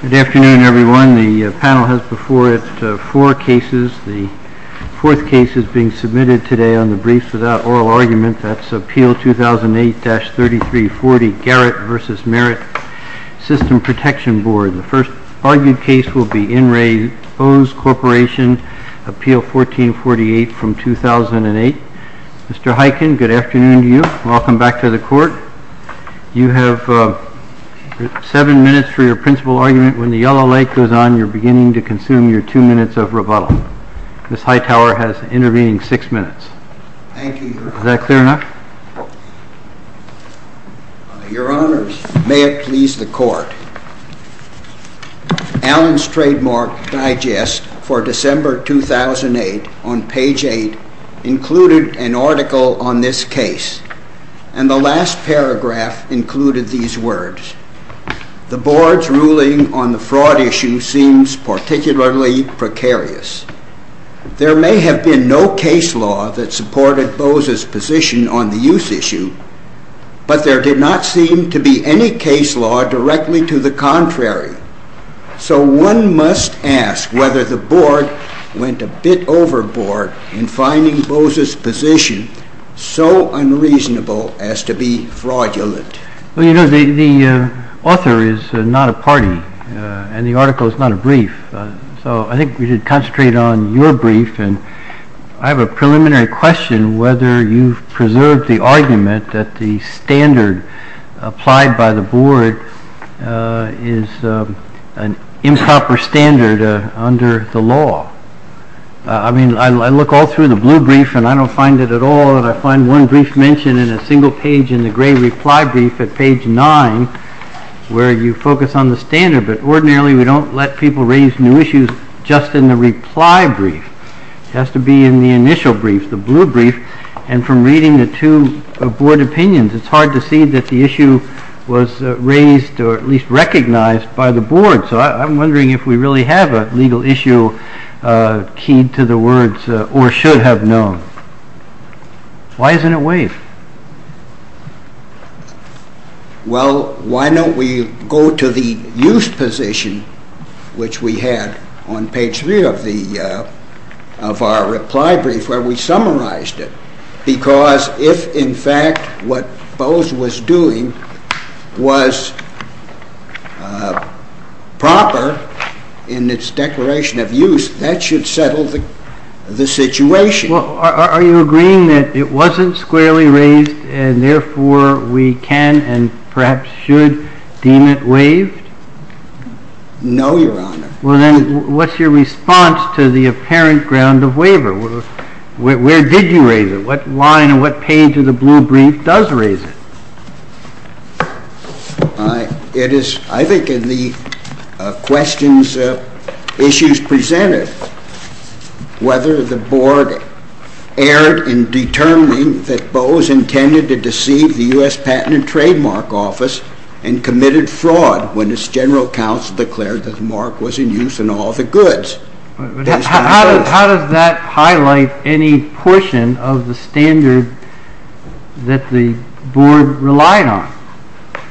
Good afternoon, everyone. The panel has before it four cases. The fourth case is being submitted today on the Briefs Without Oral Argument. That's Appeal 2008-3340, Garrett v. Merit System Protection Board. The first argued case will be In Re Bose Corporation, Appeal 1448 from 2008. Mr. Huyken, good afternoon to you. Welcome back to the Court. You have seven minutes for your principal argument. When the yellow lake goes on, you're beginning to consume your two minutes of rebuttal. Ms. Hightower has intervening six minutes. Thank you, Your Honor. Is that clear enough? Your Honor, may it please the Court, Allen's trademark digest for December 2008 on page 8 included an article on this case. And the last paragraph included these words. The Board's ruling on the fraud issue seems particularly precarious. There may have been no case law that supported Bose's position on the use issue, but there did not seem to be any case law directly to the contrary. So one must ask whether the Board went a bit overboard in finding Bose's position so unreasonable as to be fraudulent. Well, you know, the author is not a party, and the article is not a brief, so I think we should concentrate on your brief. And I have a preliminary question whether you've preserved the argument that the standard applied by the Board is an improper standard under the law. I mean, I look all through the blue brief and I don't find it at all. And I find one brief mentioned in a single page in the gray reply brief at page 9 where you focus on the standard. But ordinarily we don't let people raise new issues just in the reply brief. It has to be in the initial brief, the blue brief. And from reading the two Board opinions, it's hard to see that the issue was raised or at least recognized by the Board. So I'm wondering if we really have a legal issue keyed to the words, or should have known. Why isn't it waived? Well, why don't we go to the use position which we had on page 3 of our reply brief where we summarized it. Because if in fact what Bose was doing was proper in its declaration of use, that should settle the situation. Well, are you agreeing that it wasn't squarely raised and therefore we can and perhaps should deem it waived? No, Your Honor. Well then, what's your response to the apparent ground of waiver? Where did you raise it? What line and what page of the blue brief does raise it? I think in the questions, issues presented, whether the Board erred in determining that Bose intended to deceive the U.S. Patent and Trademark Office and committed fraud when its General Counsel declared that the mark was in use in all the goods. How does that highlight any portion of the standard that the Board relied on?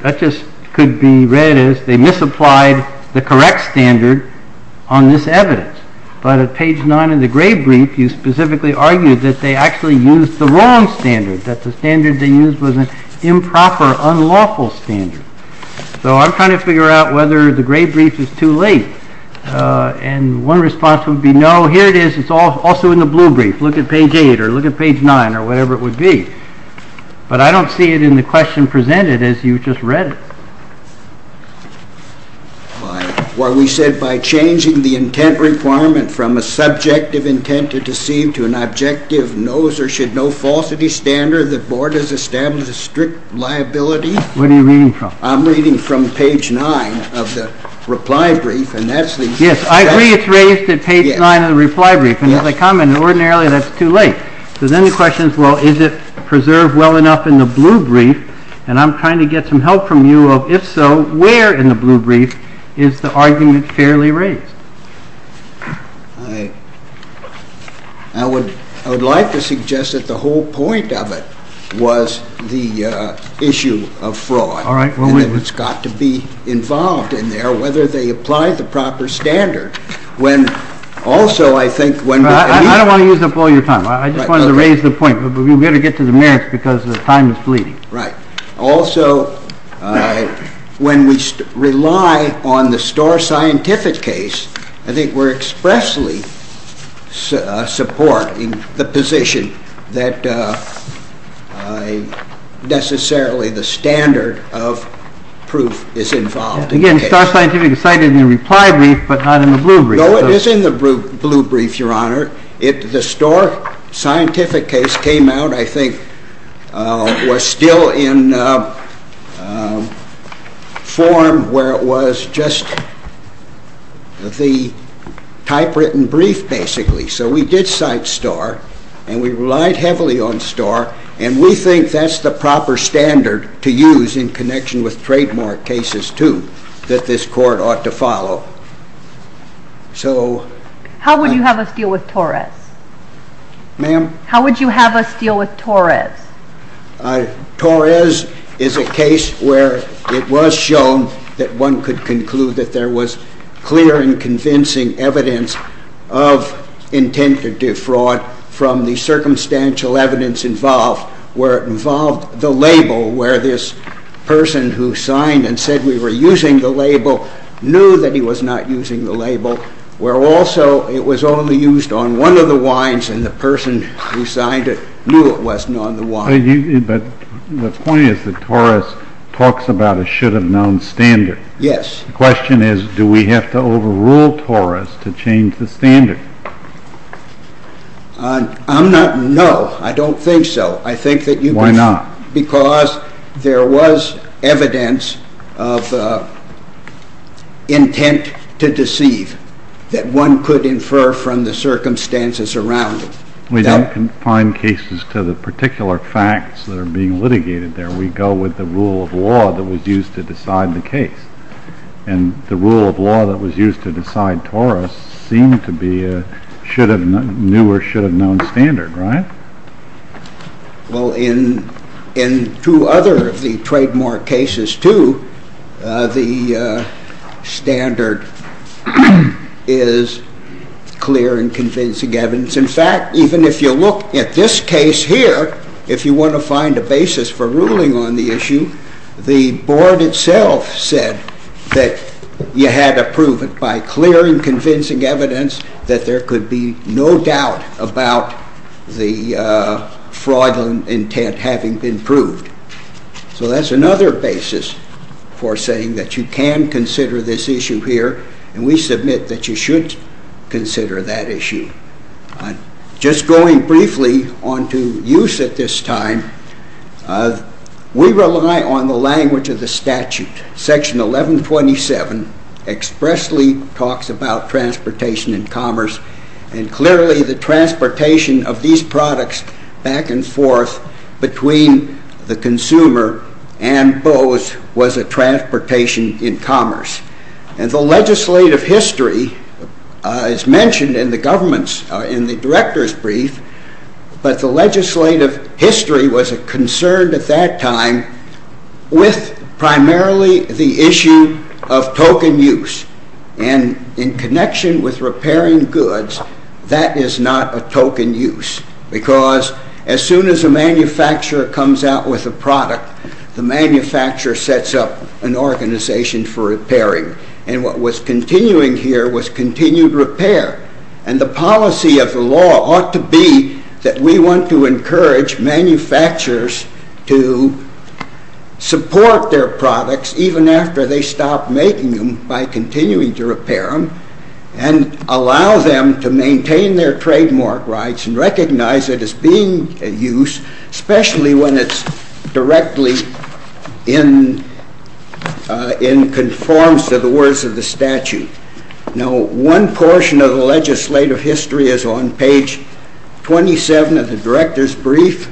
That just could be read as they misapplied the correct standard on this evidence. But at page 9 of the gray brief, you specifically argued that they actually used the wrong standard, that the standard they used was an improper, unlawful standard. So I'm trying to figure out whether the gray brief is too late. And one response would be no. Here it is. It's also in the blue brief. Look at page 8 or look at page 9 or whatever it would be. But I don't see it in the question presented as you just read it. Well, we said by changing the intent requirement from a subjective intent to deceive to an objective knows-or-should-know falsity standard, the Board has established a strict liability. What are you reading from? I'm reading from page 9 of the reply brief. Yes, I agree it's raised at page 9 of the reply brief. And as I commented, ordinarily that's too late. So then the question is, well, is it preserved well enough in the blue brief? And I'm trying to get some help from you of if so, where in the blue brief is the argument fairly raised? I would like to suggest that the whole point of it was the issue of fraud. And that it's got to be involved in there, whether they apply the proper standard. I don't want to use up all your time. I just wanted to raise the point. But we've got to get to the merits because the time is fleeting. Right. Also, when we rely on the Starr Scientific case, I think we're expressly supporting the position that necessarily the standard of proof is involved. Again, Starr Scientific cited in the reply brief, but not in the blue brief. No, it is in the blue brief, Your Honor. The Starr Scientific case came out, I think, was still in form where it was just the typewritten brief, basically. So we did cite Starr. And we relied heavily on Starr. And we think that's the proper standard to use in connection with trademark cases, too, that this Court ought to follow. So... How would you have us deal with Torres? Ma'am? How would you have us deal with Torres? Torres is a case where it was shown that one could conclude that there was clear and convincing evidence of intent to defraud from the circumstantial evidence involved. Where it involved the label, where this person who signed and said we were using the label knew that he was not using the label. Where also it was only used on one of the wines, and the person who signed it knew it wasn't on the wine. But the point is that Torres talks about a should-have-known standard. Yes. The question is, do we have to overrule Torres to change the standard? I'm not... No, I don't think so. I think that you could... Why not? Because there was evidence of intent to deceive that one could infer from the circumstances around it. We don't confine cases to the particular facts that are being litigated there. We go with the rule of law that was used to decide the case. And the rule of law that was used to decide Torres seemed to be a should-have-known standard, right? Well, in two other of the trademark cases, too, the standard is clear and convincing evidence. In fact, even if you look at this case here, if you want to find a basis for ruling on the issue, the Board itself said that you had to prove it by clear and convincing evidence that there could be no doubt about the fraudulent intent having been proved. So that's another basis for saying that you can consider this issue here, and we submit that you should consider that issue. Just going briefly on to use at this time, we rely on the language of the statute. Section 1127 expressly talks about transportation and commerce, and clearly the transportation of these products back and forth between the consumer and Bose was a transportation in commerce. And the legislative history is mentioned in the director's brief, but the legislative history was concerned at that time with primarily the issue of token use. And in connection with repairing goods, that is not a token use, because as soon as a manufacturer comes out with a product, the manufacturer sets up an organization for repairing. And what was continuing here was continued repair. And the policy of the law ought to be that we want to encourage manufacturers to support their products, even after they stop making them, by continuing to repair them, and allow them to maintain their trademark rights and recognize it as being a use, especially when it's directly in conformance to the words of the statute. Now, one portion of the legislative history is on page 27 of the director's brief,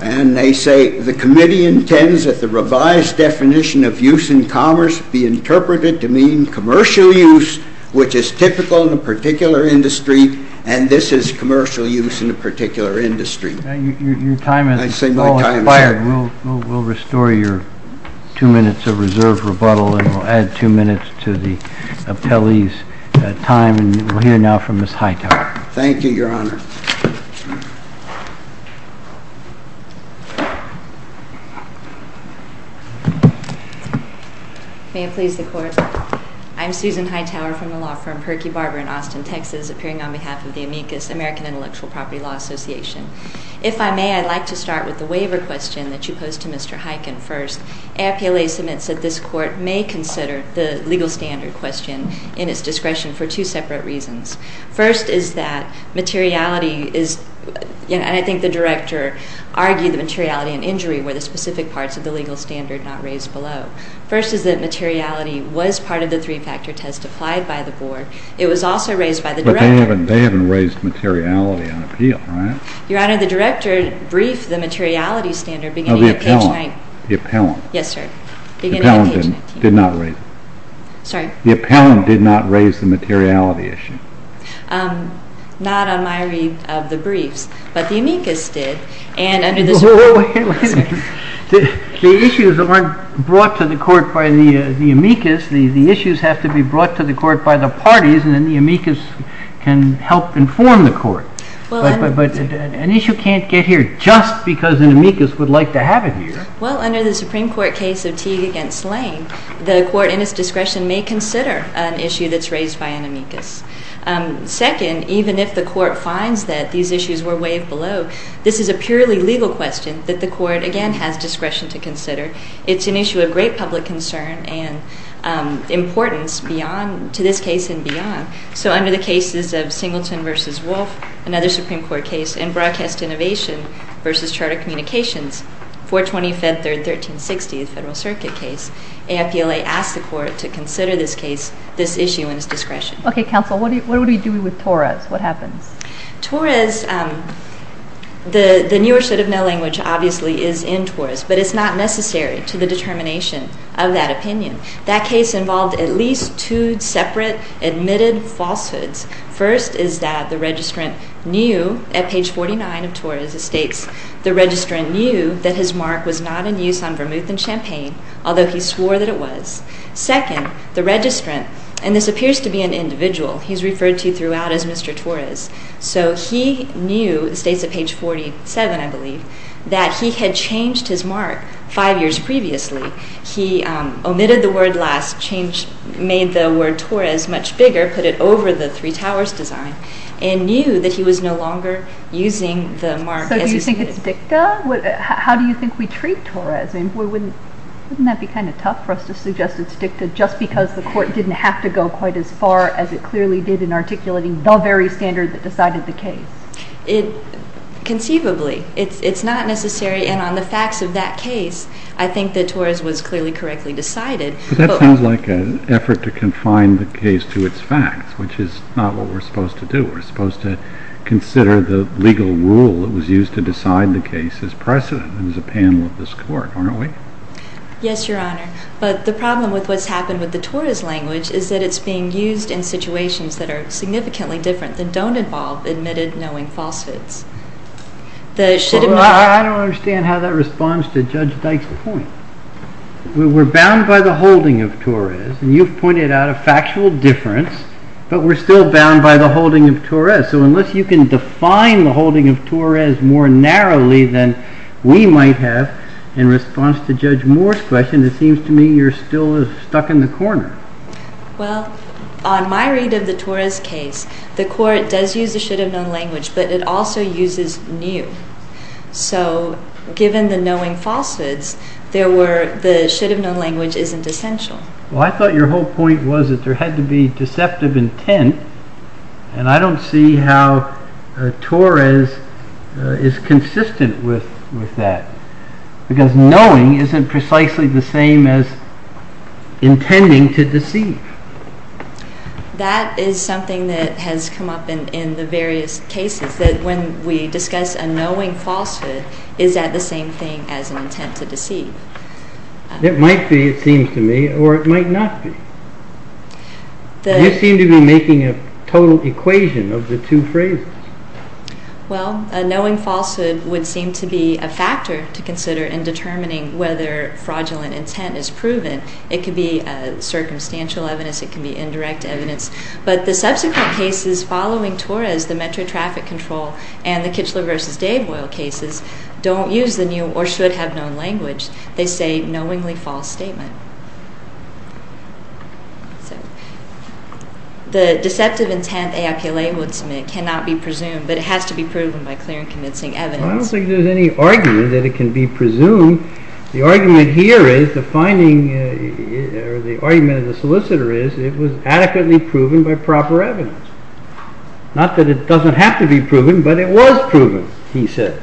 and they say the committee intends that the revised definition of use in commerce be interpreted to mean commercial use, which is typical in a particular industry, and this is commercial use in a particular industry. Your time has expired. We'll restore your two minutes of reserved rebuttal, and we'll add two minutes to the appellee's time, and we'll hear now from Ms. Hightower. Thank you, Your Honor. May it please the Court. I'm Susan Hightower from the law firm Perky Barber in Austin, Texas, appearing on behalf of the Amicus American Intellectual Property Law Association. If I may, I'd like to start with the waiver question that you posed to Mr. Hyken first. AAPLA submits that this Court may consider the legal standard question in its discretion for two separate reasons. First is that materiality is, and I think the director argued the materiality and injury were the specific parts of the legal standard not raised below. First is that materiality was part of the three-factor test applied by the Board. It was also raised by the director. But they haven't raised materiality on appeal, right? Your Honor, the director briefed the materiality standard beginning of page 19. Oh, the appellant. Yes, sir. The appellant did not raise it. Sorry? The appellant did not raise the materiality issue. Not on my read of the briefs, but the Amicus did, and under the Supreme Court. Wait a minute. The issues aren't brought to the Court by the Amicus. The issues have to be brought to the Court by the parties, and then the Amicus can help inform the Court. But an issue can't get here just because an Amicus would like to have it here. Well, under the Supreme Court case of Teague v. Lane, the Court, in its discretion, may consider an issue that's raised by an Amicus. Second, even if the Court finds that these issues were waived below, this is a purely legal question that the Court, again, has discretion to consider. It's an issue of great public concern and importance to this case and beyond. So under the cases of Singleton v. Wolfe, another Supreme Court case, and Broadcast Innovation v. Charter Communications, 420 Fed 3rd, 1360, a Federal Circuit case, AFPLA asked the Court to consider this case, this issue, in its discretion. Okay, Counsel, what are we doing with Torres? What happens? Torres, the newer set of mail language obviously is in Torres, but it's not necessary to the determination of that opinion. That case involved at least two separate admitted falsehoods. First is that the registrant knew, at page 49 of Torres, it states, the registrant knew that his mark was not in use on vermouth and champagne, although he swore that it was. Second, the registrant, and this appears to be an individual he's referred to throughout as Mr. Torres, so he knew, it states at page 47, I believe, that he had changed his mark five years previously. He omitted the word last, made the word Torres much bigger, put it over the three towers design, and knew that he was no longer using the mark as he did. So do you think it's dicta? How do you think we treat Torres? Wouldn't that be kind of tough for us to suggest it's dicta just because the Court didn't have to go quite as far as it clearly did in articulating the very standard that decided the case? Conceivably. It's not necessary. And on the facts of that case, I think that Torres was clearly correctly decided. But that sounds like an effort to confine the case to its facts, which is not what we're supposed to do. We're supposed to consider the legal rule that was used to decide the case as precedent and as a panel of this Court, aren't we? Yes, Your Honor. But the problem with what's happened with the Torres language is that it's being used in situations that are significantly different than don't involve admitted knowing falsehoods. I don't understand how that responds to Judge Dyke's point. We're bound by the holding of Torres, and you've pointed out a factual difference, but we're still bound by the holding of Torres. So unless you can define the holding of Torres more narrowly than we might have, in response to Judge Moore's question, it seems to me you're still stuck in the corner. Well, on my read of the Torres case, the Court does use the should-have-known language, but it also uses knew. So given the knowing falsehoods, the should-have-known language isn't essential. Well, I thought your whole point was that there had to be deceptive intent, and I don't see how Torres is consistent with that. Because knowing isn't precisely the same as intending to deceive. That is something that has come up in the various cases, that when we discuss a knowing falsehood, is that the same thing as an intent to deceive? It might be, it seems to me, or it might not be. You seem to be making a total equation of the two phrases. Well, a knowing falsehood would seem to be a factor to consider in determining whether fraudulent intent is proven. It could be circumstantial evidence, it could be indirect evidence. But the subsequent cases following Torres, the Metro Traffic Control, and the Kitchler v. Dave oil cases, don't use the new or should-have-known language. They say knowingly false statement. The deceptive intent AIPLA would submit cannot be presumed, but it has to be proven by clear and convincing evidence. Well, I don't think there's any argument that it can be presumed. The argument here is, the finding, or the argument of the solicitor is, it was adequately proven by proper evidence. Not that it doesn't have to be proven, but it was proven, he says.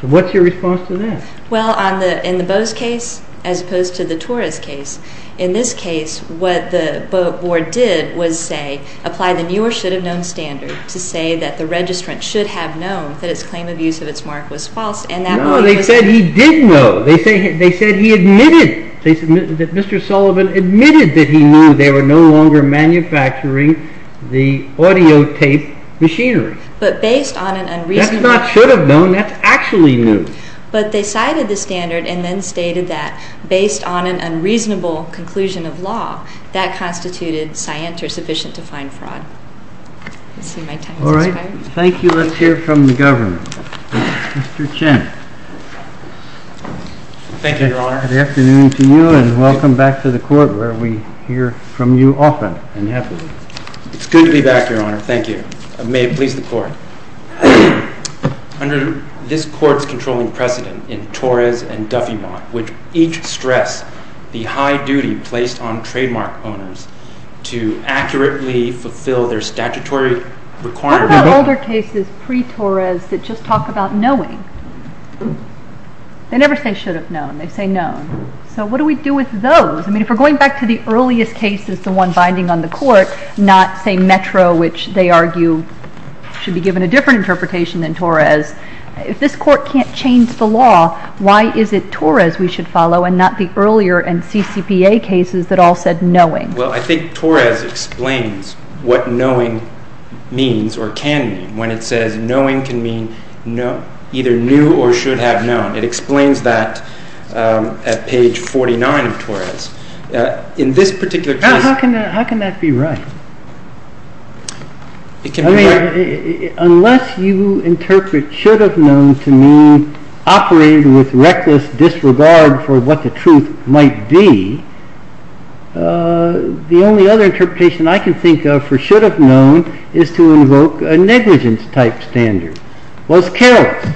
So what's your response to that? Well, in the Bose case, as opposed to the Torres case, in this case, what the board did was say, apply the new or should-have-known standard to say that the registrant should have known that his claim of use of its mark was false. No, they said he did know. They said he admitted. They said that Mr. Sullivan admitted that he knew they were no longer manufacturing the audio tape machinery. That's not should-have-known, that's actually new. But they cited the standard and then stated that, based on an unreasonable conclusion of law, that constituted scient or sufficient to find fraud. All right, thank you. Let's hear from the government. Mr. Chen. Thank you, Your Honor. Good afternoon to you, and welcome back to the Court, where we hear from you often and happily. It's good to be back, Your Honor. Thank you. May it please the Court. Under this Court's controlling precedent in Torres and Duffeymont, which each stress the high duty placed on trademark owners to accurately fulfill their statutory requirements. What about older cases pre-Torres that just talk about knowing? They never say should-have-known. They say known. So what do we do with those? I mean, if we're going back to the earliest cases, the one binding on the Court, not, say, Metro, which they argue should be given a different interpretation than Torres, if this Court can't change the law, why is it Torres we should follow and not the earlier and CCPA cases that all said knowing? Well, I think Torres explains what knowing means, or can mean, when it says knowing can mean either new or should-have-known. It explains that at page 49 of Torres. How can that be right? I mean, unless you interpret should-have-known to mean operating with reckless disregard for what the truth might be, the only other interpretation I can think of for should-have-known is to invoke a negligence-type standard. Well, it's careless,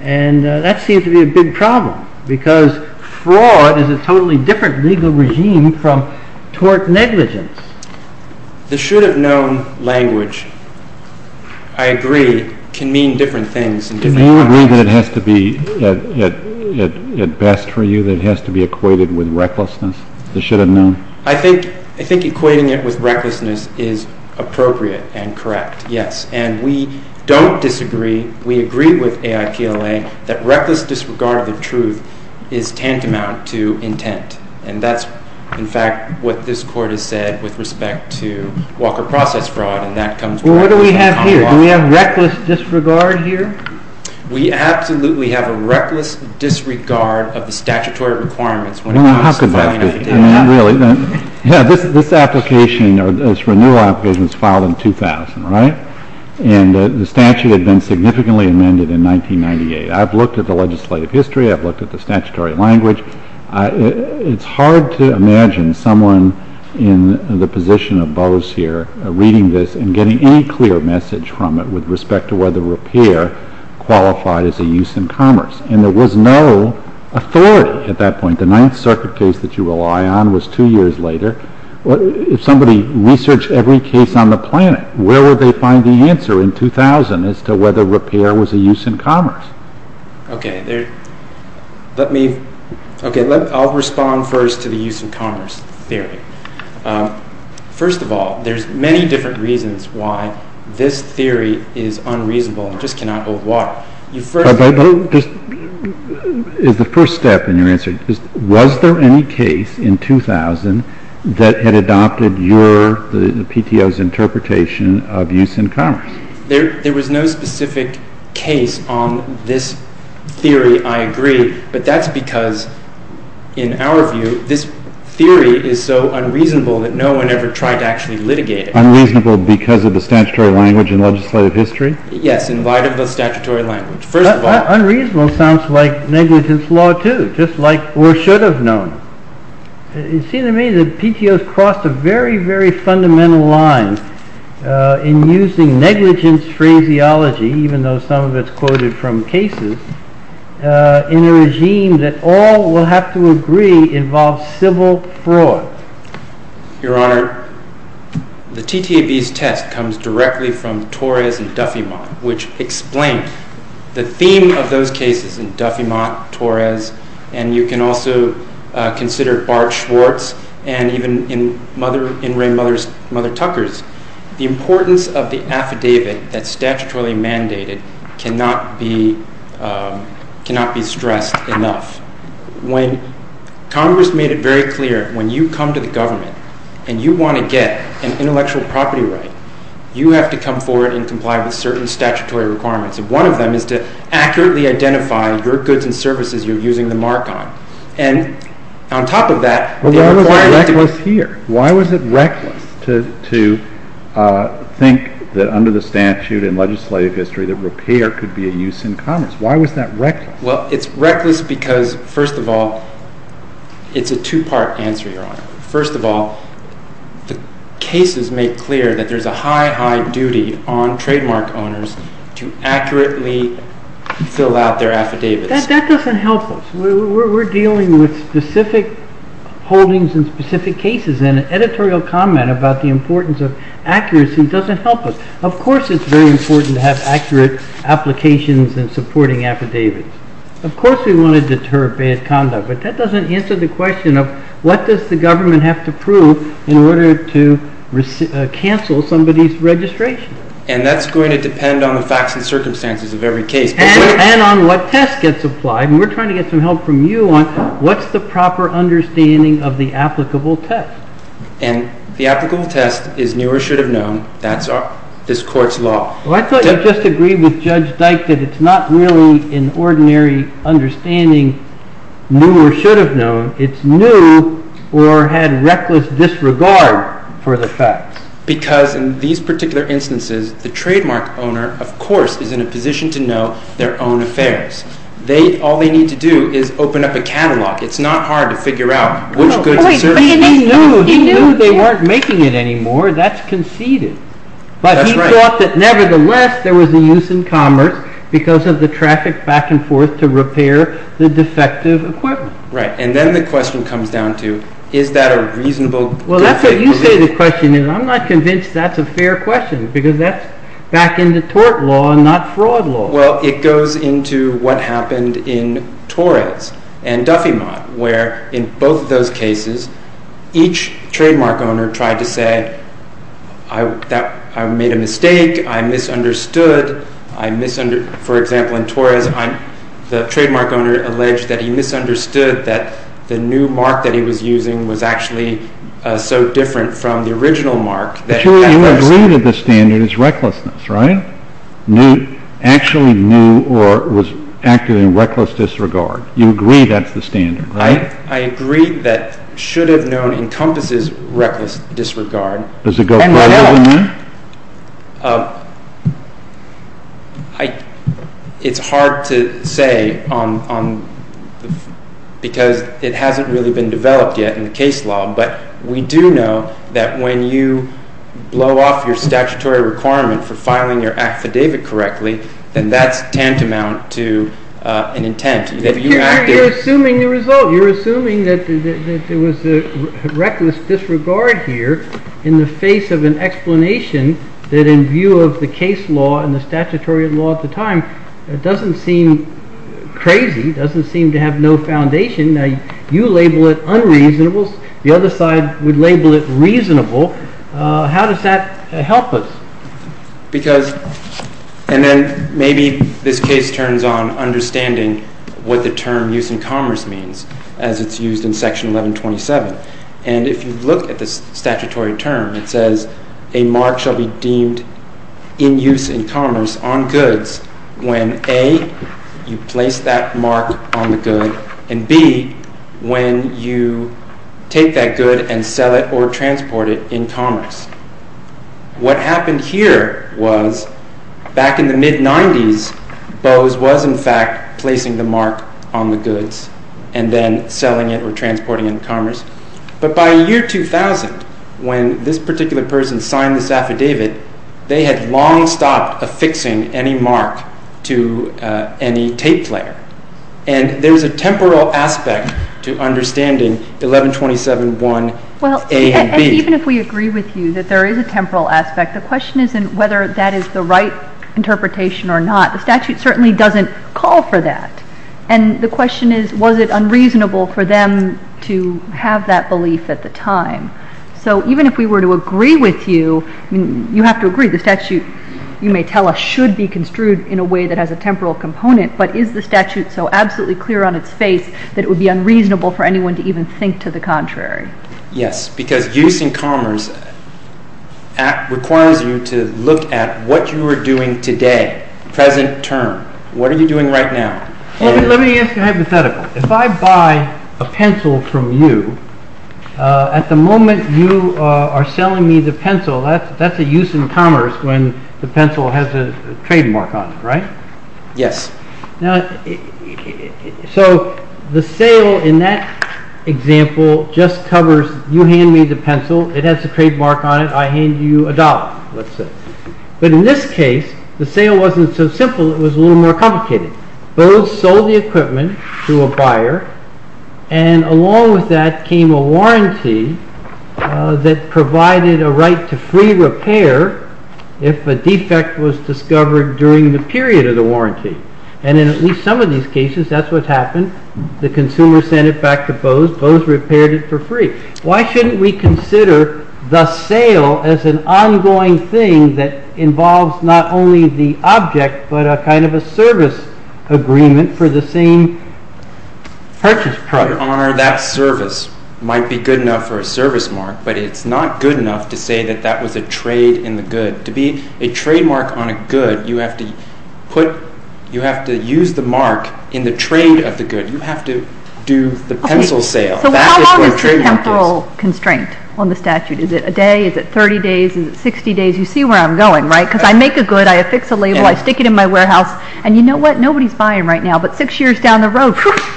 and that seems to be a big problem, because fraud is a totally different legal regime from tort negligence. The should-have-known language, I agree, can mean different things. Do you agree that it has to be, at best for you, that it has to be equated with recklessness, the should-have-known? I think equating it with recklessness is appropriate and correct, yes. And we don't disagree. We agree with AIPLA that reckless disregard of the truth is tantamount to intent. And that's, in fact, what this Court has said with respect to Walker process fraud, and that comes back to the common law. Well, what do we have here? Do we have reckless disregard here? We absolutely have a reckless disregard of the statutory requirements. Well, how could that be? I mean, really. This application, this renewal application, was filed in 2000, right? And the statute had been significantly amended in 1998. I've looked at the legislative history. I've looked at the statutory language. It's hard to imagine someone in the position of Bose here reading this and getting any clear message from it with respect to whether repair qualified as a use in commerce. And there was no authority at that point. The Ninth Circuit case that you rely on was two years later. If somebody researched every case on the planet, where would they find the answer in 2000 as to whether repair was a use in commerce? Okay. Let me, okay, I'll respond first to the use in commerce theory. First of all, there's many different reasons why this theory is unreasonable and just cannot hold water. But is the first step in your answer, was there any case in 2000 that had adopted the PTO's interpretation of use in commerce? There was no specific case on this theory, I agree. But that's because, in our view, this theory is so unreasonable that no one ever tried to actually litigate it. Unreasonable because of the statutory language and legislative history? Yes, in light of the statutory language. Unreasonable sounds like negligence law too, just like, or should have known. It seems to me that PTO's crossed a very, very fundamental line in using negligence phraseology, even though some of it's quoted from cases, in a regime that all will have to agree involves civil fraud. Your Honor, the TTAB's test comes directly from Torres and Duffey-Mott, which explain the theme of those cases in Duffey-Mott, Torres, and you can also consider Bart Schwartz, and even in Mother, in Ray Mother's, Mother Tucker's. The importance of the affidavit that's statutorily mandated cannot be, cannot be stressed enough. When Congress made it very clear, when you come to the government, and you want to get an intellectual property right, you have to come forward and comply with certain statutory requirements. And one of them is to accurately identify your goods and services you're using the mark on. And, on top of that, they require you to... Well, why was it reckless here? Why was it reckless to think that under the statute and legislative history that repair could be a use in commerce? Why was that reckless? Well, it's reckless because, first of all, it's a two-part answer, Your Honor. First of all, the cases make clear that there's a high, high duty on trademark owners to accurately fill out their affidavits. That doesn't help us. We're dealing with specific holdings and specific cases, and an editorial comment about the importance of accuracy doesn't help us. Of course it's very important to have accurate applications and supporting affidavits. Of course we want to deter bad conduct, but that doesn't answer the question of what does the government have to prove in order to cancel somebody's registration. And that's going to depend on the facts and circumstances of every case. And on what test gets applied. And we're trying to get some help from you on what's the proper understanding of the applicable test. And the applicable test is new or should have known. That's this court's law. Well, I thought you just agreed with Judge Dyke that it's not really an ordinary understanding, new or should have known. It's new or had reckless disregard for the facts. Because in these particular instances, the trademark owner, of course, is in a position to know their own affairs. All they need to do is open up a catalog. It's not hard to figure out which goods to search. He knew they weren't making it anymore. That's conceded. But he thought that nevertheless there was a use in commerce because of the traffic back and forth to repair the defective equipment. Right. And then the question comes down to is that a reasonable good thing to do? Well, that's what you say the question is. I'm not convinced that's a fair question because that's back into tort law and not fraud law. Well, it goes into what happened in Torres and Duffiemont, where in both of those cases, each trademark owner tried to say, I made a mistake, I misunderstood. For example, in Torres, the trademark owner alleged that he misunderstood that the new mark that he was using was actually so different from the original mark. You agree that the standard is recklessness, right? Actually knew or was active in reckless disregard. You agree that's the standard, right? I agree that should have known encompasses reckless disregard. Does it go further than that? It's hard to say because it hasn't really been developed yet in the case law. But we do know that when you blow off your statutory requirement for filing your affidavit correctly, then that's tantamount to an intent. You're assuming the result. You're assuming that there was a reckless disregard here in the face of an explanation that in view of the case law and the statutory law at the time, it doesn't seem crazy, doesn't seem to have no foundation. You label it unreasonable. The other side would label it reasonable. How does that help us? And then maybe this case turns on understanding what the term use in commerce means as it's used in Section 1127. And if you look at the statutory term, it says a mark shall be deemed in use in commerce on goods when A, you place that mark on the good, and B, when you take that good and sell it or transport it in commerce. What happened here was back in the mid-90s, Bose was in fact placing the mark on the goods and then selling it or transporting it in commerce. But by year 2000, when this particular person signed this affidavit, they had long stopped affixing any mark to any tape player. And there was a temporal aspect to understanding 1127.1A and B. Even if we agree with you that there is a temporal aspect, the question isn't whether that is the right interpretation or not. The statute certainly doesn't call for that. And the question is, was it unreasonable for them to have that belief at the time? So even if we were to agree with you, you have to agree the statute, you may tell us, should be construed in a way that has a temporal component, but is the statute so absolutely clear on its face that it would be unreasonable for anyone to even think to the contrary? Yes, because use in commerce requires you to look at what you are doing today, present term. What are you doing right now? Let me ask you a hypothetical. If I buy a pencil from you, at the moment you are selling me the pencil, that's a use in commerce when the pencil has a trademark on it, right? Yes. So the sale in that example just covers, you hand me the pencil, it has a trademark on it, I hand you a dollar, let's say. But in this case, the sale wasn't so simple, it was a little more complicated. Bose sold the equipment to a buyer, and along with that came a warranty that provided a right to free repair if a defect was discovered during the period of the warranty. And in at least some of these cases, that's what happened. The consumer sent it back to Bose, Bose repaired it for free. Why shouldn't we consider the sale as an ongoing thing that involves not only the object, but a kind of a service agreement for the same purchase product? That service might be good enough for a service mark, but it's not good enough to say that that was a trade in the good. To be a trademark on a good, you have to use the mark in the trade of the good. You have to do the pencil sale. So how long is the temporal constraint on the statute? Is it a day? Is it 30 days? Is it 60 days? You see where I'm going, right? Because I make a good, I affix a label, I stick it in my warehouse, and you know what? Nobody's buying right now, but six years down the road,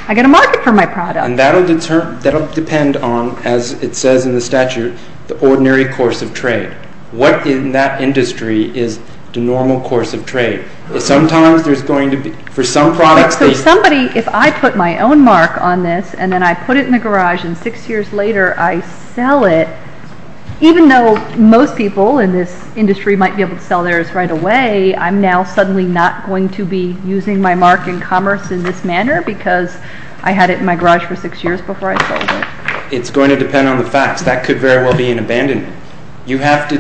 I've got a market for my product. And that will depend on, as it says in the statute, the ordinary course of trade. What in that industry is the normal course of trade? So somebody, if I put my own mark on this, and then I put it in the garage, and six years later I sell it, even though most people in this industry might be able to sell theirs right away, I'm now suddenly not going to be using my mark in commerce in this manner, because I had it in my garage for six years before I sold it. It's going to depend on the facts. That could very well be an abandonment. You have to,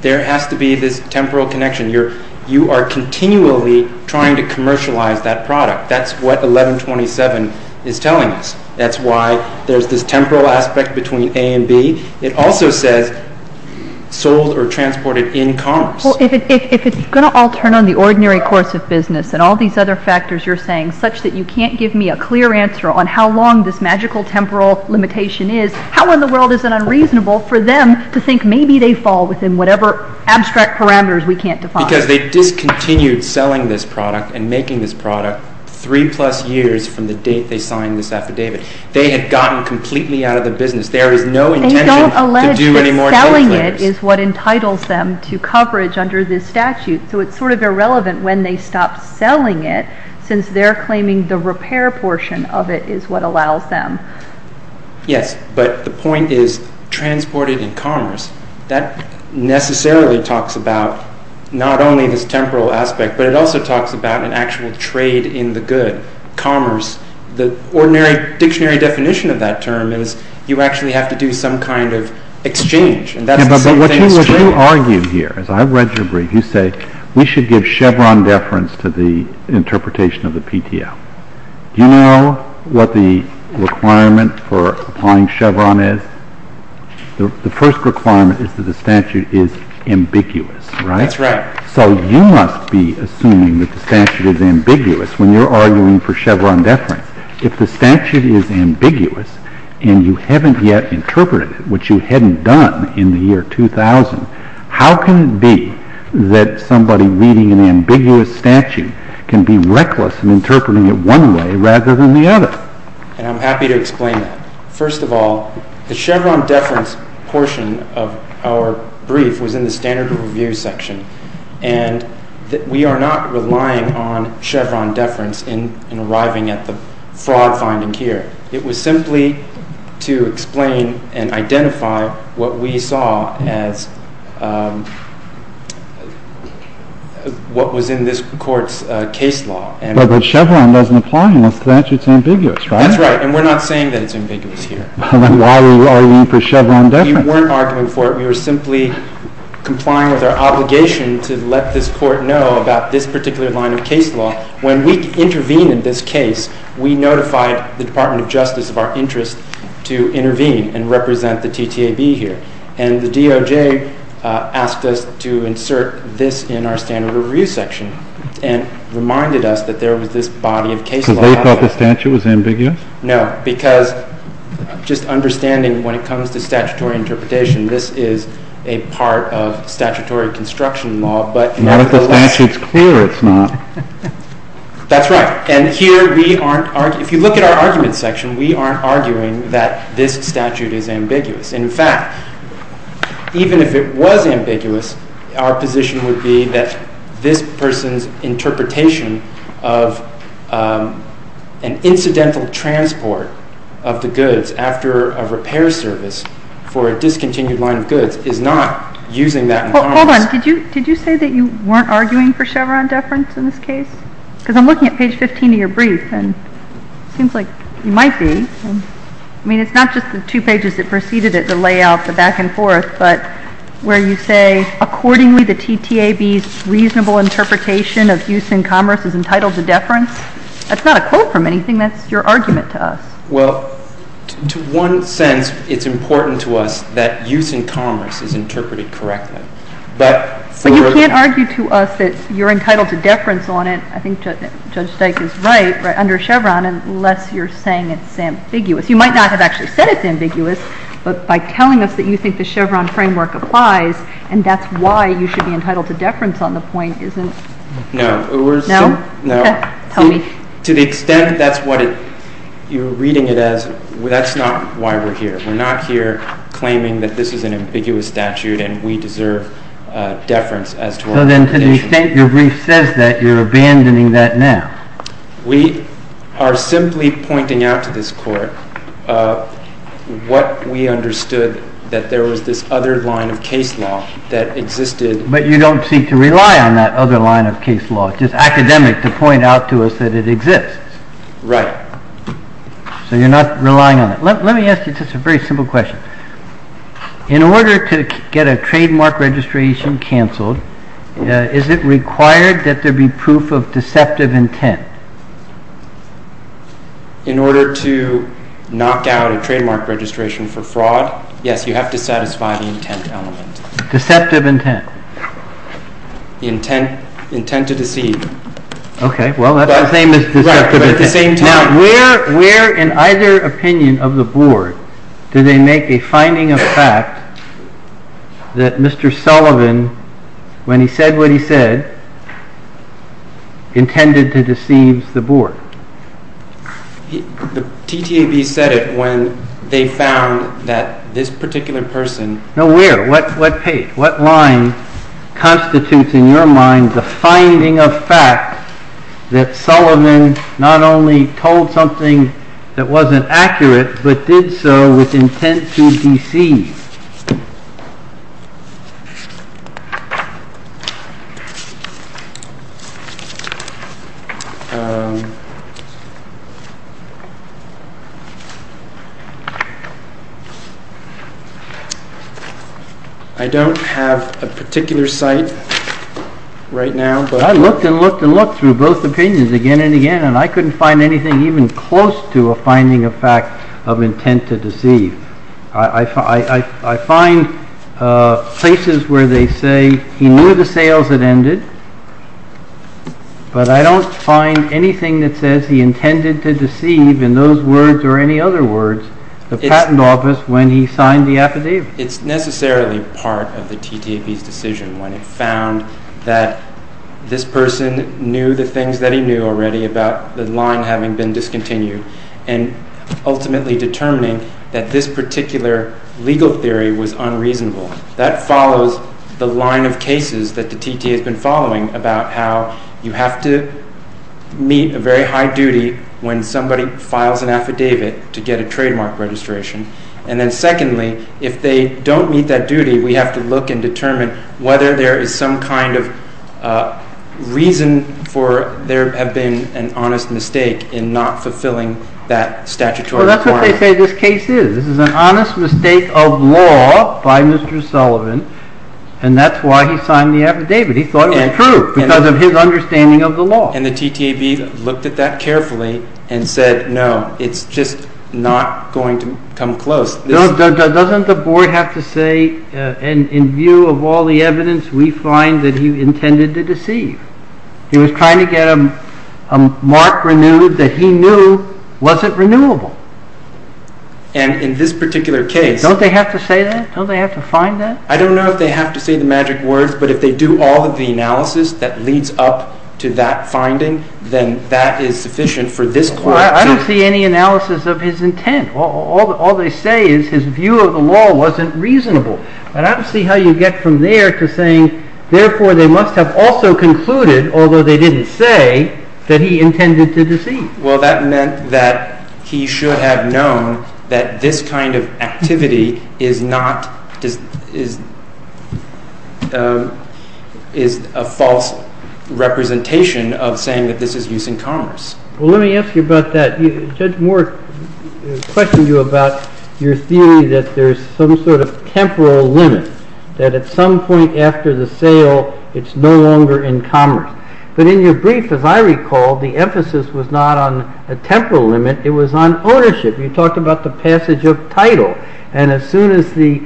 there has to be this temporal connection. You are continually trying to commercialize that product. That's what 1127 is telling us. That's why there's this temporal aspect between A and B. It also says sold or transported in commerce. Well, if it's going to all turn on the ordinary course of business, and all these other factors you're saying, such that you can't give me a clear answer on how long this magical temporal limitation is, how in the world is it unreasonable for them to think maybe they fall within whatever abstract parameters we can't define? Because they discontinued selling this product and making this product three plus years from the date they signed this affidavit. They had gotten completely out of the business. There is no intention to do any more tradeflares. They don't allege that selling it is what entitles them to coverage under this statute, so it's sort of irrelevant when they stop selling it, since they're claiming the repair portion of it is what allows them. Yes, but the point is transported in commerce. That necessarily talks about not only this temporal aspect, but it also talks about an actual trade in the good. Commerce, the ordinary dictionary definition of that term is you actually have to do some kind of exchange, and that's the same thing as trade. But what you argue here, as I've read your brief, you say we should give Chevron deference to the interpretation of the PTO. Do you know what the requirement for applying Chevron is? The first requirement is that the statute is ambiguous, right? That's right. So you must be assuming that the statute is ambiguous when you're arguing for Chevron deference. If the statute is ambiguous and you haven't yet interpreted it, which you hadn't done in the year 2000, how can it be that somebody reading an ambiguous statute can be reckless in interpreting it one way rather than the other? And I'm happy to explain that. First of all, the Chevron deference portion of our brief was in the standard review section, and we are not relying on Chevron deference in arriving at the fraud finding here. It was simply to explain and identify what we saw as what was in this Court's case law. But Chevron doesn't apply unless the statute is ambiguous, right? That's right, and we're not saying that it's ambiguous here. Then why are we arguing for Chevron deference? We weren't arguing for it. We were simply complying with our obligation to let this Court know about this particular line of case law. When we intervened in this case, we notified the Department of Justice of our interest to intervene and represent the TTAB here, and the DOJ asked us to insert this in our standard review section and reminded us that there was this body of case law. Because they thought the statute was ambiguous? No, because just understanding when it comes to statutory interpretation, this is a part of statutory construction law, but nevertheless... Not if the statute's clear it's not. That's right, and here we aren't arguing. If you look at our argument section, we aren't arguing that this statute is ambiguous. In fact, even if it was ambiguous, our position would be that this person's interpretation of an incidental transport of the goods after a repair service Hold on. Did you say that you weren't arguing for Chevron deference in this case? Because I'm looking at page 15 of your brief, and it seems like you might be. I mean, it's not just the two pages that preceded it, the layout, the back and forth, but where you say, Accordingly, the TTAB's reasonable interpretation of use in commerce is entitled to deference. That's not a quote from anything. That's your argument to us. Well, to one sense, it's important to us that use in commerce is interpreted correctly. But you can't argue to us that you're entitled to deference on it. I think Judge Steik is right, under Chevron, unless you're saying it's ambiguous. You might not have actually said it's ambiguous, but by telling us that you think the Chevron framework applies and that's why you should be entitled to deference on the point isn't... No. No? Tell me. To the extent that's what you're reading it as, that's not why we're here. We're not here claiming that this is an ambiguous statute and we deserve deference as to our limitations. So then, to the extent your brief says that, you're abandoning that now. We are simply pointing out to this Court what we understood, that there was this other line of case law that existed... But you don't seek to rely on that other line of case law. It's just academic to point out to us that it exists. Right. So you're not relying on it. Let me ask you just a very simple question. In order to get a trademark registration cancelled, is it required that there be proof of deceptive intent? In order to knock out a trademark registration for fraud, yes, you have to satisfy the intent element. Deceptive intent. The intent to deceive. Okay, well that's the same as deceptive intent. Right, but at the same time... Where in either opinion of the Board do they make a finding of fact that Mr. Sullivan, when he said what he said, intended to deceive the Board? The TTAB said it when they found that this particular person... No, where? What page? What line constitutes in your mind the finding of fact that Sullivan not only told something that wasn't accurate, but did so with intent to deceive? I don't have a particular site right now... I looked and looked and looked through both opinions again and again and I couldn't find anything even close to a finding of fact of intent to deceive. I find places where they say he knew the sales had ended, but I don't find anything that says he intended to deceive in those words or any other words the patent office when he signed the affidavit. It's necessarily part of the TTAB's decision when it found that this person knew the things that he knew already about the line having been discontinued and ultimately determining that this particular legal theory was unreasonable. That follows the line of cases that the TTA has been following about how you have to meet a very high duty when somebody files an affidavit to get a trademark registration. And then secondly, if they don't meet that duty, we have to look and determine whether there is some kind of reason for there have been an honest mistake in not fulfilling that statutory requirement. That's what they say this case is. This is an honest mistake of law by Mr. Sullivan and that's why he signed the affidavit. He thought it was true because of his understanding of the law. And the TTAB looked at that carefully and said, no, it's just not going to come close. Doesn't the board have to say, in view of all the evidence, we find that he intended to deceive. He was trying to get a mark renewed that he knew wasn't renewable. And in this particular case... Don't they have to say that? Don't they have to find that? I don't know if they have to say the magic words, but if they do all of the analysis that leads up to that finding, then that is sufficient for this court to... I don't see any analysis of his intent. All they say is his view of the law wasn't reasonable. I don't see how you get from there to saying, therefore, they must have also concluded, although they didn't say, that he intended to deceive. Well, that meant that he should have known that this kind of activity is not... is a false representation of saying that this is use in commerce. Well, let me ask you about that. Judge Moore questioned you about your theory that there's some sort of temporal limit, that at some point after the sale, it's no longer in commerce. But in your brief, as I recall, the emphasis was not on a temporal limit, it was on ownership. You talked about the passage of title, and as soon as the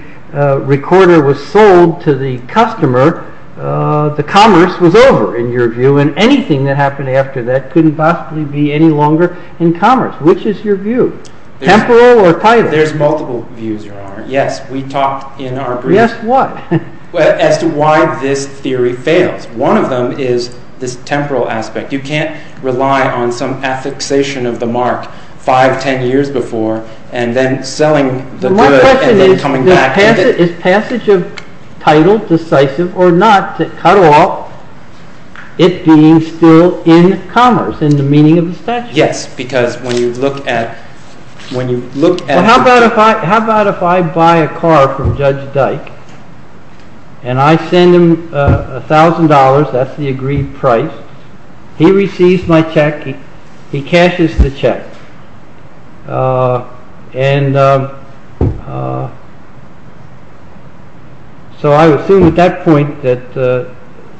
recorder was sold to the customer, the commerce was over, in your view, and anything that happened after that couldn't possibly be any longer in commerce. Which is your view? Temporal or title? There's multiple views, Your Honor. Yes, we talked in our brief... Yes, what? As to why this theory fails. One of them is this temporal aspect. You can't rely on some affixation of the mark five, ten years before, and then selling the good... My question is, is passage of title decisive or not to cut off it being still in commerce, in the meaning of the statute? Yes, because when you look at... How about if I buy a car from Judge Dyke, and I send him $1,000, that's the agreed price, he receives my check, he cashes the check. So I assume at that point that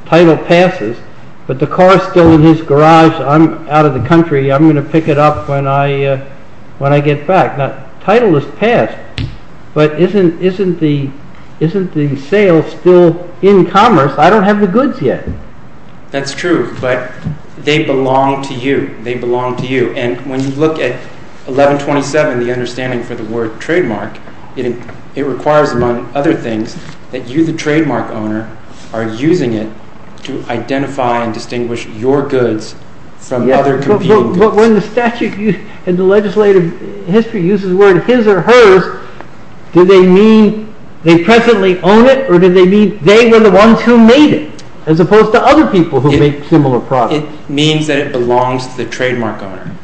title passes, but the car is still in his garage, I'm out of the country, I'm going to pick it up when I get back. Title is passed, but isn't the sale still in commerce? I don't have the goods yet. That's true, but they belong to you. And when you look at 1127, the understanding for the word trademark, it requires, among other things, that you, the trademark owner, are using it to identify and distinguish your goods from other competing goods. But when the statute and the legislative history uses the word his or hers, do they mean they presently own it, or do they mean they were the ones who made it, as opposed to other people who make similar products? It means that it belongs to the trademark owner.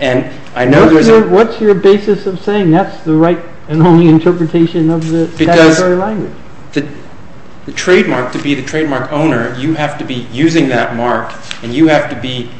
And I know there's a... What's your basis of saying that's the right and only interpretation of the statutory language? The trademark, to be the trademark owner, you have to be using that mark, and you have to be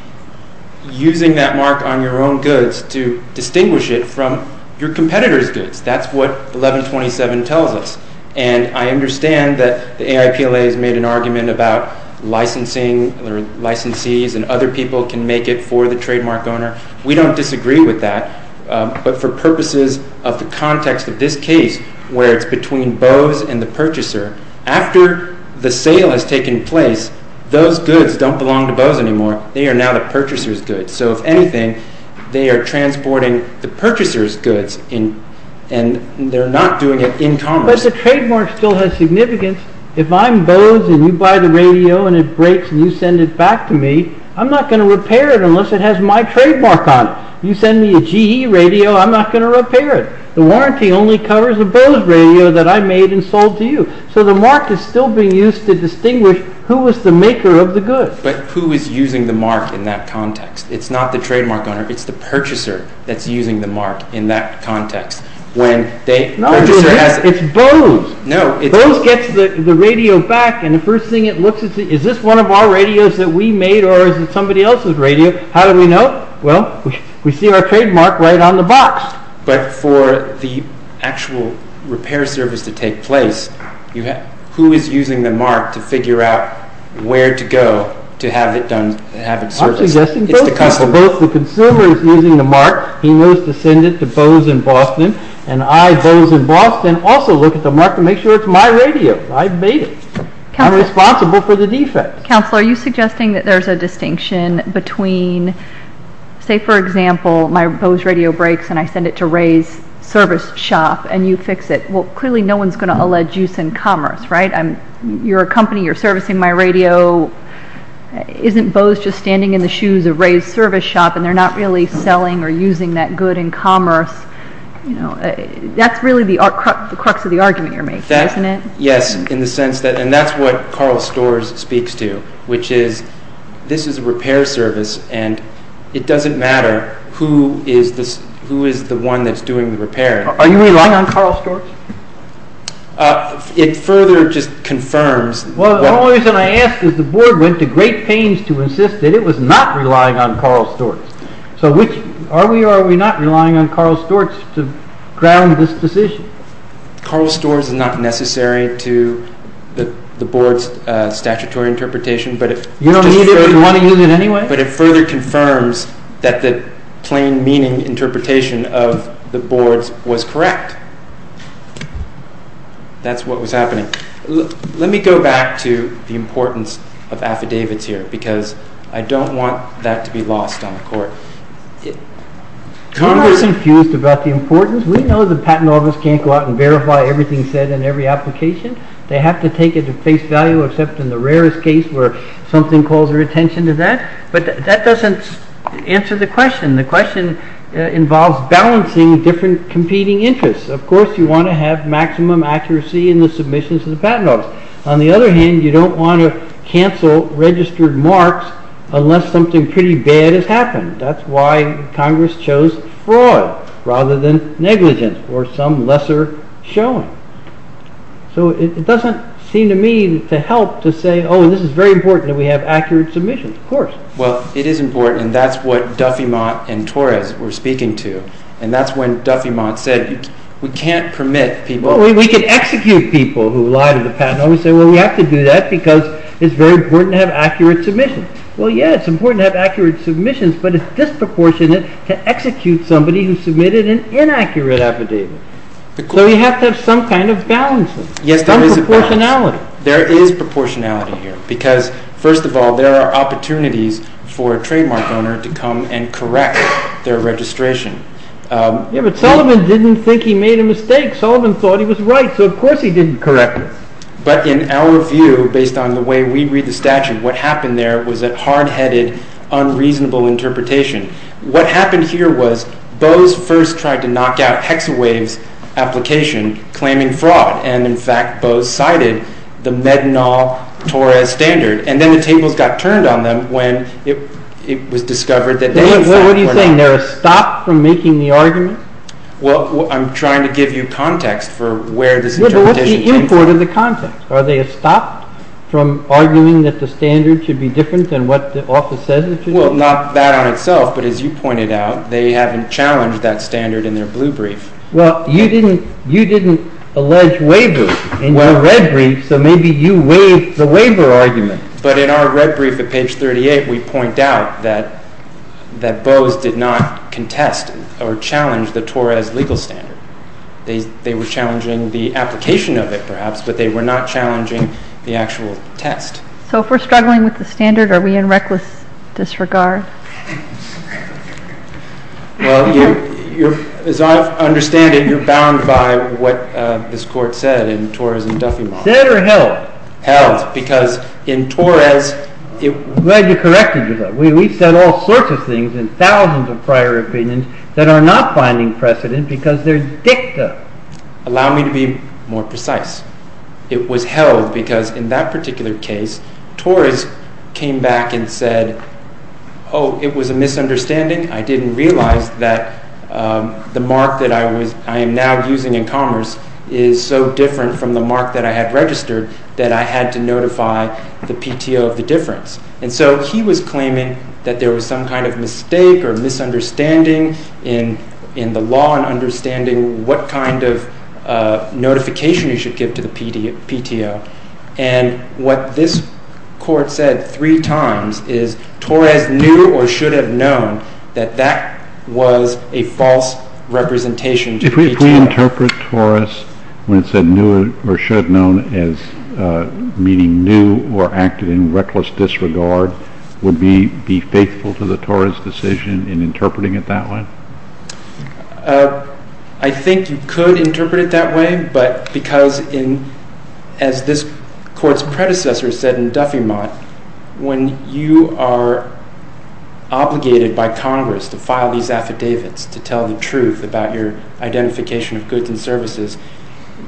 using that mark on your own goods to distinguish it from your competitors' goods. That's what 1127 tells us. And I understand that the AIPLA has made an argument about licensing, or licensees and other people can make it for the trademark owner. We don't disagree with that. But for purposes of the context of this case, where it's between Bose and the purchaser, after the sale has taken place, those goods don't belong to Bose anymore. They are now the purchaser's goods. So if anything, they are transporting the purchaser's goods, and they're not doing it in commerce. But the trademark still has significance. If I'm Bose and you buy the radio and it breaks and you send it back to me, I'm not going to repair it unless it has my trademark on it. You send me a GE radio, I'm not going to repair it. The warranty only covers a Bose radio that I made and sold to you. So the mark is still being used to distinguish who is the maker of the goods. But who is using the mark in that context? It's not the trademark owner. It's the purchaser that's using the mark in that context. No, it's Bose. Bose gets the radio back and the first thing it looks at is is this one of our radios that we made or is it somebody else's radio? How do we know? Well, we see our trademark right on the box. But for the actual repair service to take place, who is using the mark to figure out where to go to have it serviced? I'm suggesting both. The consumer is using the mark. He knows to send it to Bose in Boston. And I, Bose in Boston, also look at the mark to make sure it's my radio. I made it. I'm responsible for the defects. Counselor, are you suggesting that there's a distinction between, say for example, my Bose radio breaks and I send it to Ray's service shop and you fix it. Well, clearly no one's going to allege use and commerce, right? You're a company. You're servicing my radio. Isn't Bose just standing in the shoes of Ray's service shop and they're not really selling or using that good in commerce? That's really the crux of the argument you're making, isn't it? Yes, in the sense that and that's what Carl Storrs speaks to which is this is a repair service and it doesn't matter who is the one that's doing the repair. Are you relying on Carl Storrs? It further just confirms Well, the only reason I ask is the board went to great pains to insist that it was not relying on Carl Storrs. So which, are we or are we not relying on Carl Storrs to ground this decision? Carl Storrs is not necessary to the board's statutory interpretation, but it You don't need it if you want to use it anyway? But it further confirms that the plain meaning interpretation of the board's was correct. That's what was happening. Let me go back to the importance of affidavits here because I don't want that to be lost on the court. Congress is confused about the importance. We know the patent office can't go out and verify everything said in every application. They have to take it at face value except in the rarest case where something calls their attention to that. But that doesn't answer the question. The question involves balancing different competing interests. Of course, you want to have maximum accuracy in the submissions to the patent office. On the other hand, you don't want to cancel registered marks unless something pretty bad has happened. That's why Congress chose fraud rather than negligence or some lesser showing. It doesn't seem to me to help to say, oh, this is very important that we have accurate submissions. Of course. It is important. That's what Duffiemont and Torres were speaking to. That's when Duffiemont said we can't permit people... We can execute people who lie to the patent office and say, well, we have to do that because it's very important to have accurate submissions. Well, yeah, it's important to have accurate submissions but it's disproportionate to execute somebody who submitted an inaccurate affidavit. We have to have some kind of balance. Some proportionality. There is proportionality here because first of all, there are opportunities for a trademark owner to come and correct their registration. Yeah, but Sullivan didn't think he made a mistake. Sullivan thought he was right, so of course he didn't correct it. But in our view, based on the way we read the statute, what happened there was a hard-headed, unreasonable interpretation. What happened here was Bose first tried to knock out Hexawave's application claiming fraud, and in fact, Bose cited the Medinol Torres standard, and then the tables got turned on them when it was discovered that... What are you saying? They're stopped from making the argument? Well, I'm trying to give you context for where this interpretation came from. What's the import of the context? Are they stopped from arguing that the standard should be different than what the office says it should be? Well, not that on itself, but as you pointed out, they haven't challenged that standard in their blue brief. Well, you didn't allege waiver in your red brief, so maybe you waived the waiver argument. But in our red brief at page 38, we point out that Bose did not contest or challenge the Torres legal standard. They were challenging the application of it, perhaps, but they were not challenging the actual test. So if we're struggling with the standard, are we in reckless disregard? Well, as I understand it, you're bound by what this court said in Torres and Duffey model. Said or held? Held, because in Torres... Glad you corrected me, though. We've said all sorts of things in thousands of prior opinions that are not finding precedent because they're dicta. Allow me to be more precise. It was held because in that particular case, Torres came back and said, oh, it was a misunderstanding. I didn't realize that the mark that I am now using in commerce is so different from the mark that I had registered that I had to notify the PTO of the difference. And so he was claiming that there was some kind of mistake or misunderstanding in the law and understanding what kind of notification you should give to the PTO. And what this court said three times is Torres knew or should have known that that was a false representation to PTO. If we interpret Torres when it said knew or should have known as meaning knew or acted in reckless disregard, would we be faithful to the Torres decision in interpreting it that way? I think you could interpret it that way, but because in... as this court's in Duffiemont, when you are obligated by Congress to file these affidavits to tell the truth about your identification of goods and services,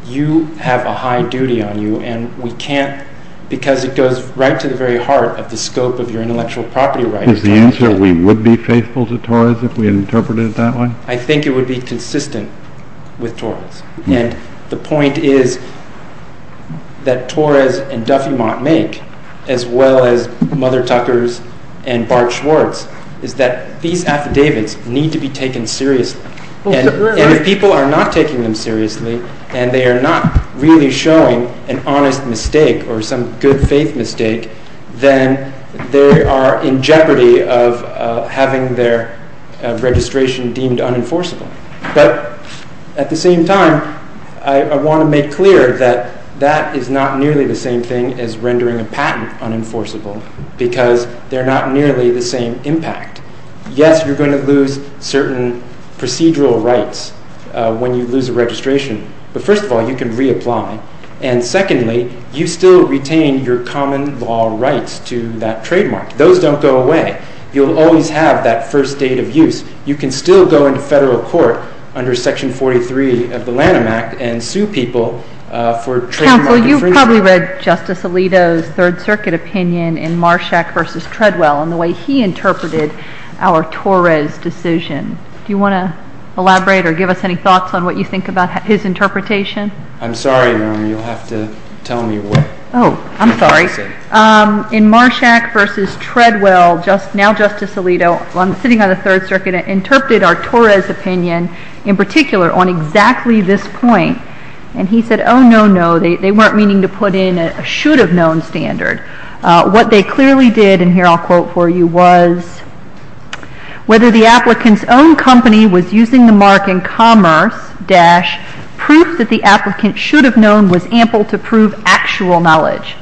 you have a high duty on you and we can't because it goes right to the very heart of the scope of your intellectual property rights. Is the answer we would be faithful to Torres if we interpreted it that way? I think it would be consistent with Torres. And the point is that as well as Mother Tucker's and Bart Schwartz, is that these affidavits need to be taken seriously. And if people are not taking them seriously and they are not really showing an honest mistake or some good faith mistake, then they are in jeopardy of having their registration deemed unenforceable. But, at the same time, I want to make clear that that is not nearly the same thing as rendering a patent unenforceable because they are not nearly the same impact. Yes, you are going to lose certain procedural rights when you lose a registration. But, first of all, you can reapply. And, secondly, you still retain your common law rights to that trademark. Those don't go away. You will always have that first date of use. You can still go into federal court under Section 43 of the Lanham Act and sue people for trademark infringement. Counsel, you probably read Justice Alito's Third Circuit opinion in Marshak v. Treadwell on the way he interpreted our Torres decision. Do you want to elaborate or give us any thoughts on what you think about his interpretation? I'm sorry, Your Honor. You'll have to tell me what. Oh, I'm sorry. In Marshak v. Treadwell, now Justice Alito, sitting on the Third Circuit, interpreted our Torres opinion in particular on exactly this point. And he said, oh, no, no. They weren't meaning to put in a should-have-known standard. What they clearly did, and here I'll quote for you, was, whether the applicant's own company was using the mark in Commerce dash proof that the applicant should have known was ample to prove actual knowledge.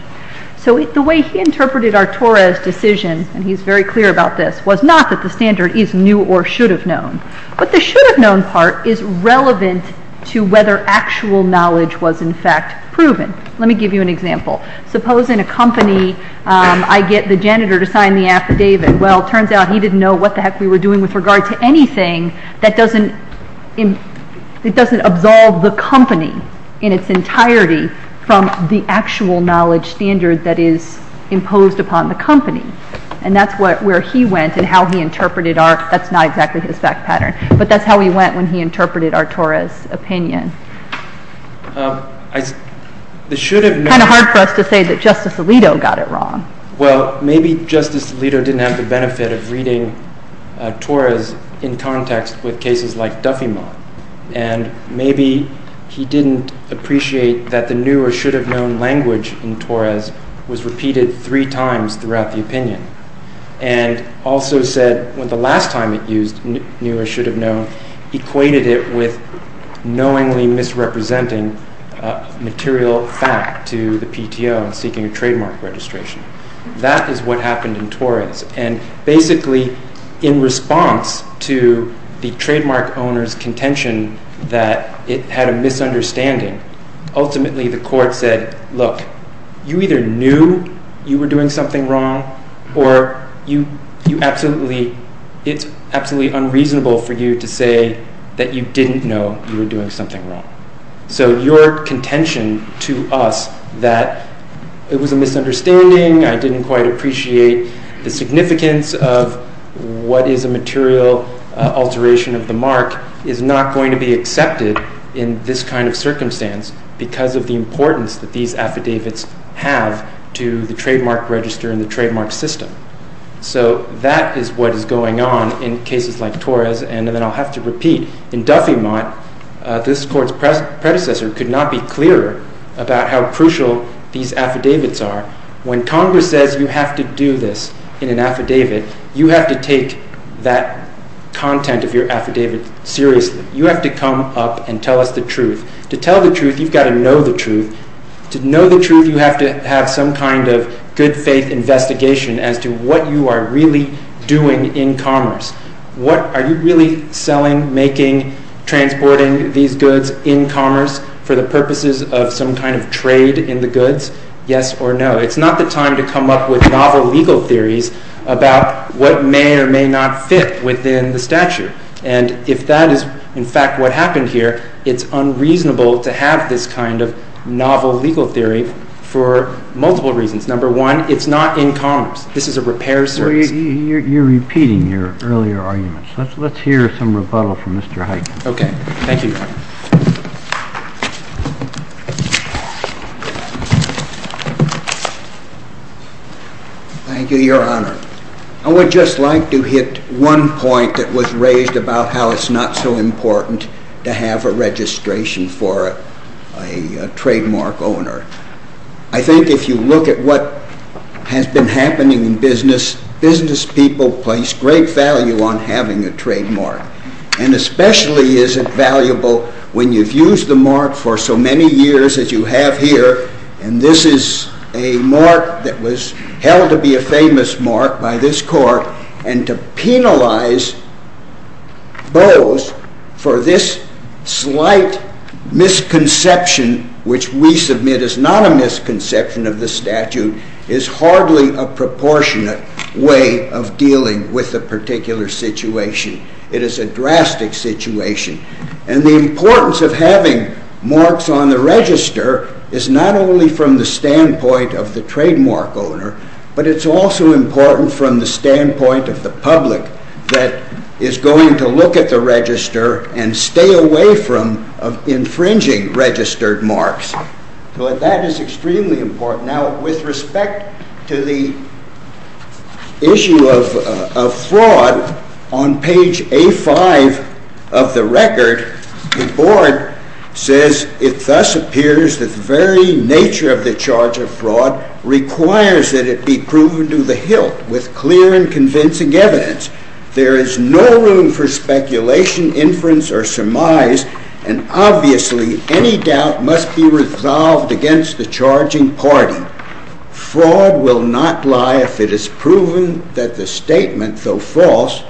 The way he interpreted our Torres decision, and he's very clear about this, was not that the standard is new or should have known. But the should-have-known part is relevant to whether actual knowledge was in fact proven. Let me give you an example. Suppose in a company I get the janitor to sign the affidavit. Well, it turns out he didn't know what the heck we were doing with regard to anything that doesn't absolve the company in its entirety from the actual knowledge standard that is imposed upon the company. And that's where he went and how he interpreted our, that's not exactly his effect pattern, but that's how he went when he interpreted our Torres opinion. It's kind of hard for us to say that Justice Alito got it wrong. Well, maybe Justice Alito didn't have the benefit of reading Torres in context with cases like Duffiemont. And maybe he didn't appreciate that the new or should-have-known language in Torres was repeated three times throughout the opinion. And also said when the last time it used new or should-have-known, equated it with knowingly misrepresenting material fact to the PTO seeking a trademark registration. That is what happened in Torres. And basically, in response to the trademark owner's contention that it had a misunderstanding, ultimately the court said, look, you either knew you were doing something wrong or you absolutely it's absolutely unreasonable for you to say that you didn't know you were doing something wrong. So your contention to us that it was a misunderstanding, I didn't quite appreciate the significance of what is a material alteration of the mark is not going to be accepted in this kind of circumstance because of the importance that these affidavits have to the trademark register and the trademark system. So that is what is going on in cases like Torres and then I'll have to repeat. In Duffiemont this court's predecessor could not be clearer about how crucial these affidavits are. When Congress says you have to do this in an affidavit you have to take that content of your affidavit seriously. You have to come up and tell us the truth. To tell the truth you've got to know the truth. To know the truth you have to have some kind of good faith investigation as to what you are really doing in commerce. What are you really selling, making, transporting these goods in commerce for the purposes of some kind of trade in the goods? Yes or no? It's not the time to come up with novel legal theories about what may or may not fit within the statute. And if that is in fact what happened here it's unreasonable to have this kind of novel legal theory for multiple reasons. Number one, it's not in commerce. This is a repair service. You're repeating your earlier arguments. Let's hear some rebuttal from Mr. Hyken. Okay. Thank you. Thank you, Your Honor. I would just like to hit one point that was raised about how it's not so important to have a registration for a trademark owner. I think if you look at what has been happening in business business people place great value on having a trademark. And especially is it valuable when you've used the mark for so many years as you have here, and this is a mark that was held to be a famous mark by this court and to penalize those for this slight misconception which we submit is not a misconception of the statute is hardly a proportionate way of dealing with the particular situation. It is a drastic situation. And the importance of having marks on the register is not only from the standpoint of the trademark owner, but it's also important from the standpoint of the public that is going to look at the register and stay away from infringing registered marks. So that is extremely important. Now with respect to the issue of fraud on page A-5 of the record the board says it thus appears that the very nature of the charge of fraud requires that it be proven to the hilt with clear and convincing evidence. There is no room for speculation, inference, or surmise, and obviously any doubt must be resolved against the charging party. Fraud will not lie if it is proven that the statement, though false,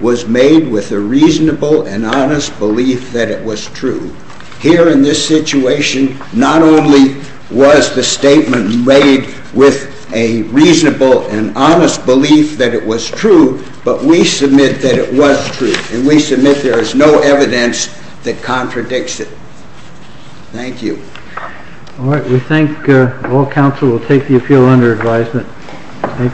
was made with a reasonable and honest belief that it was true. Here in this situation not only was the statement made with a reasonable and honest belief that it was true, but we submit that it was true, and we submit there is no evidence that contradicts it. Thank you. All right. We thank all counsel. We'll take the appeal under advisement.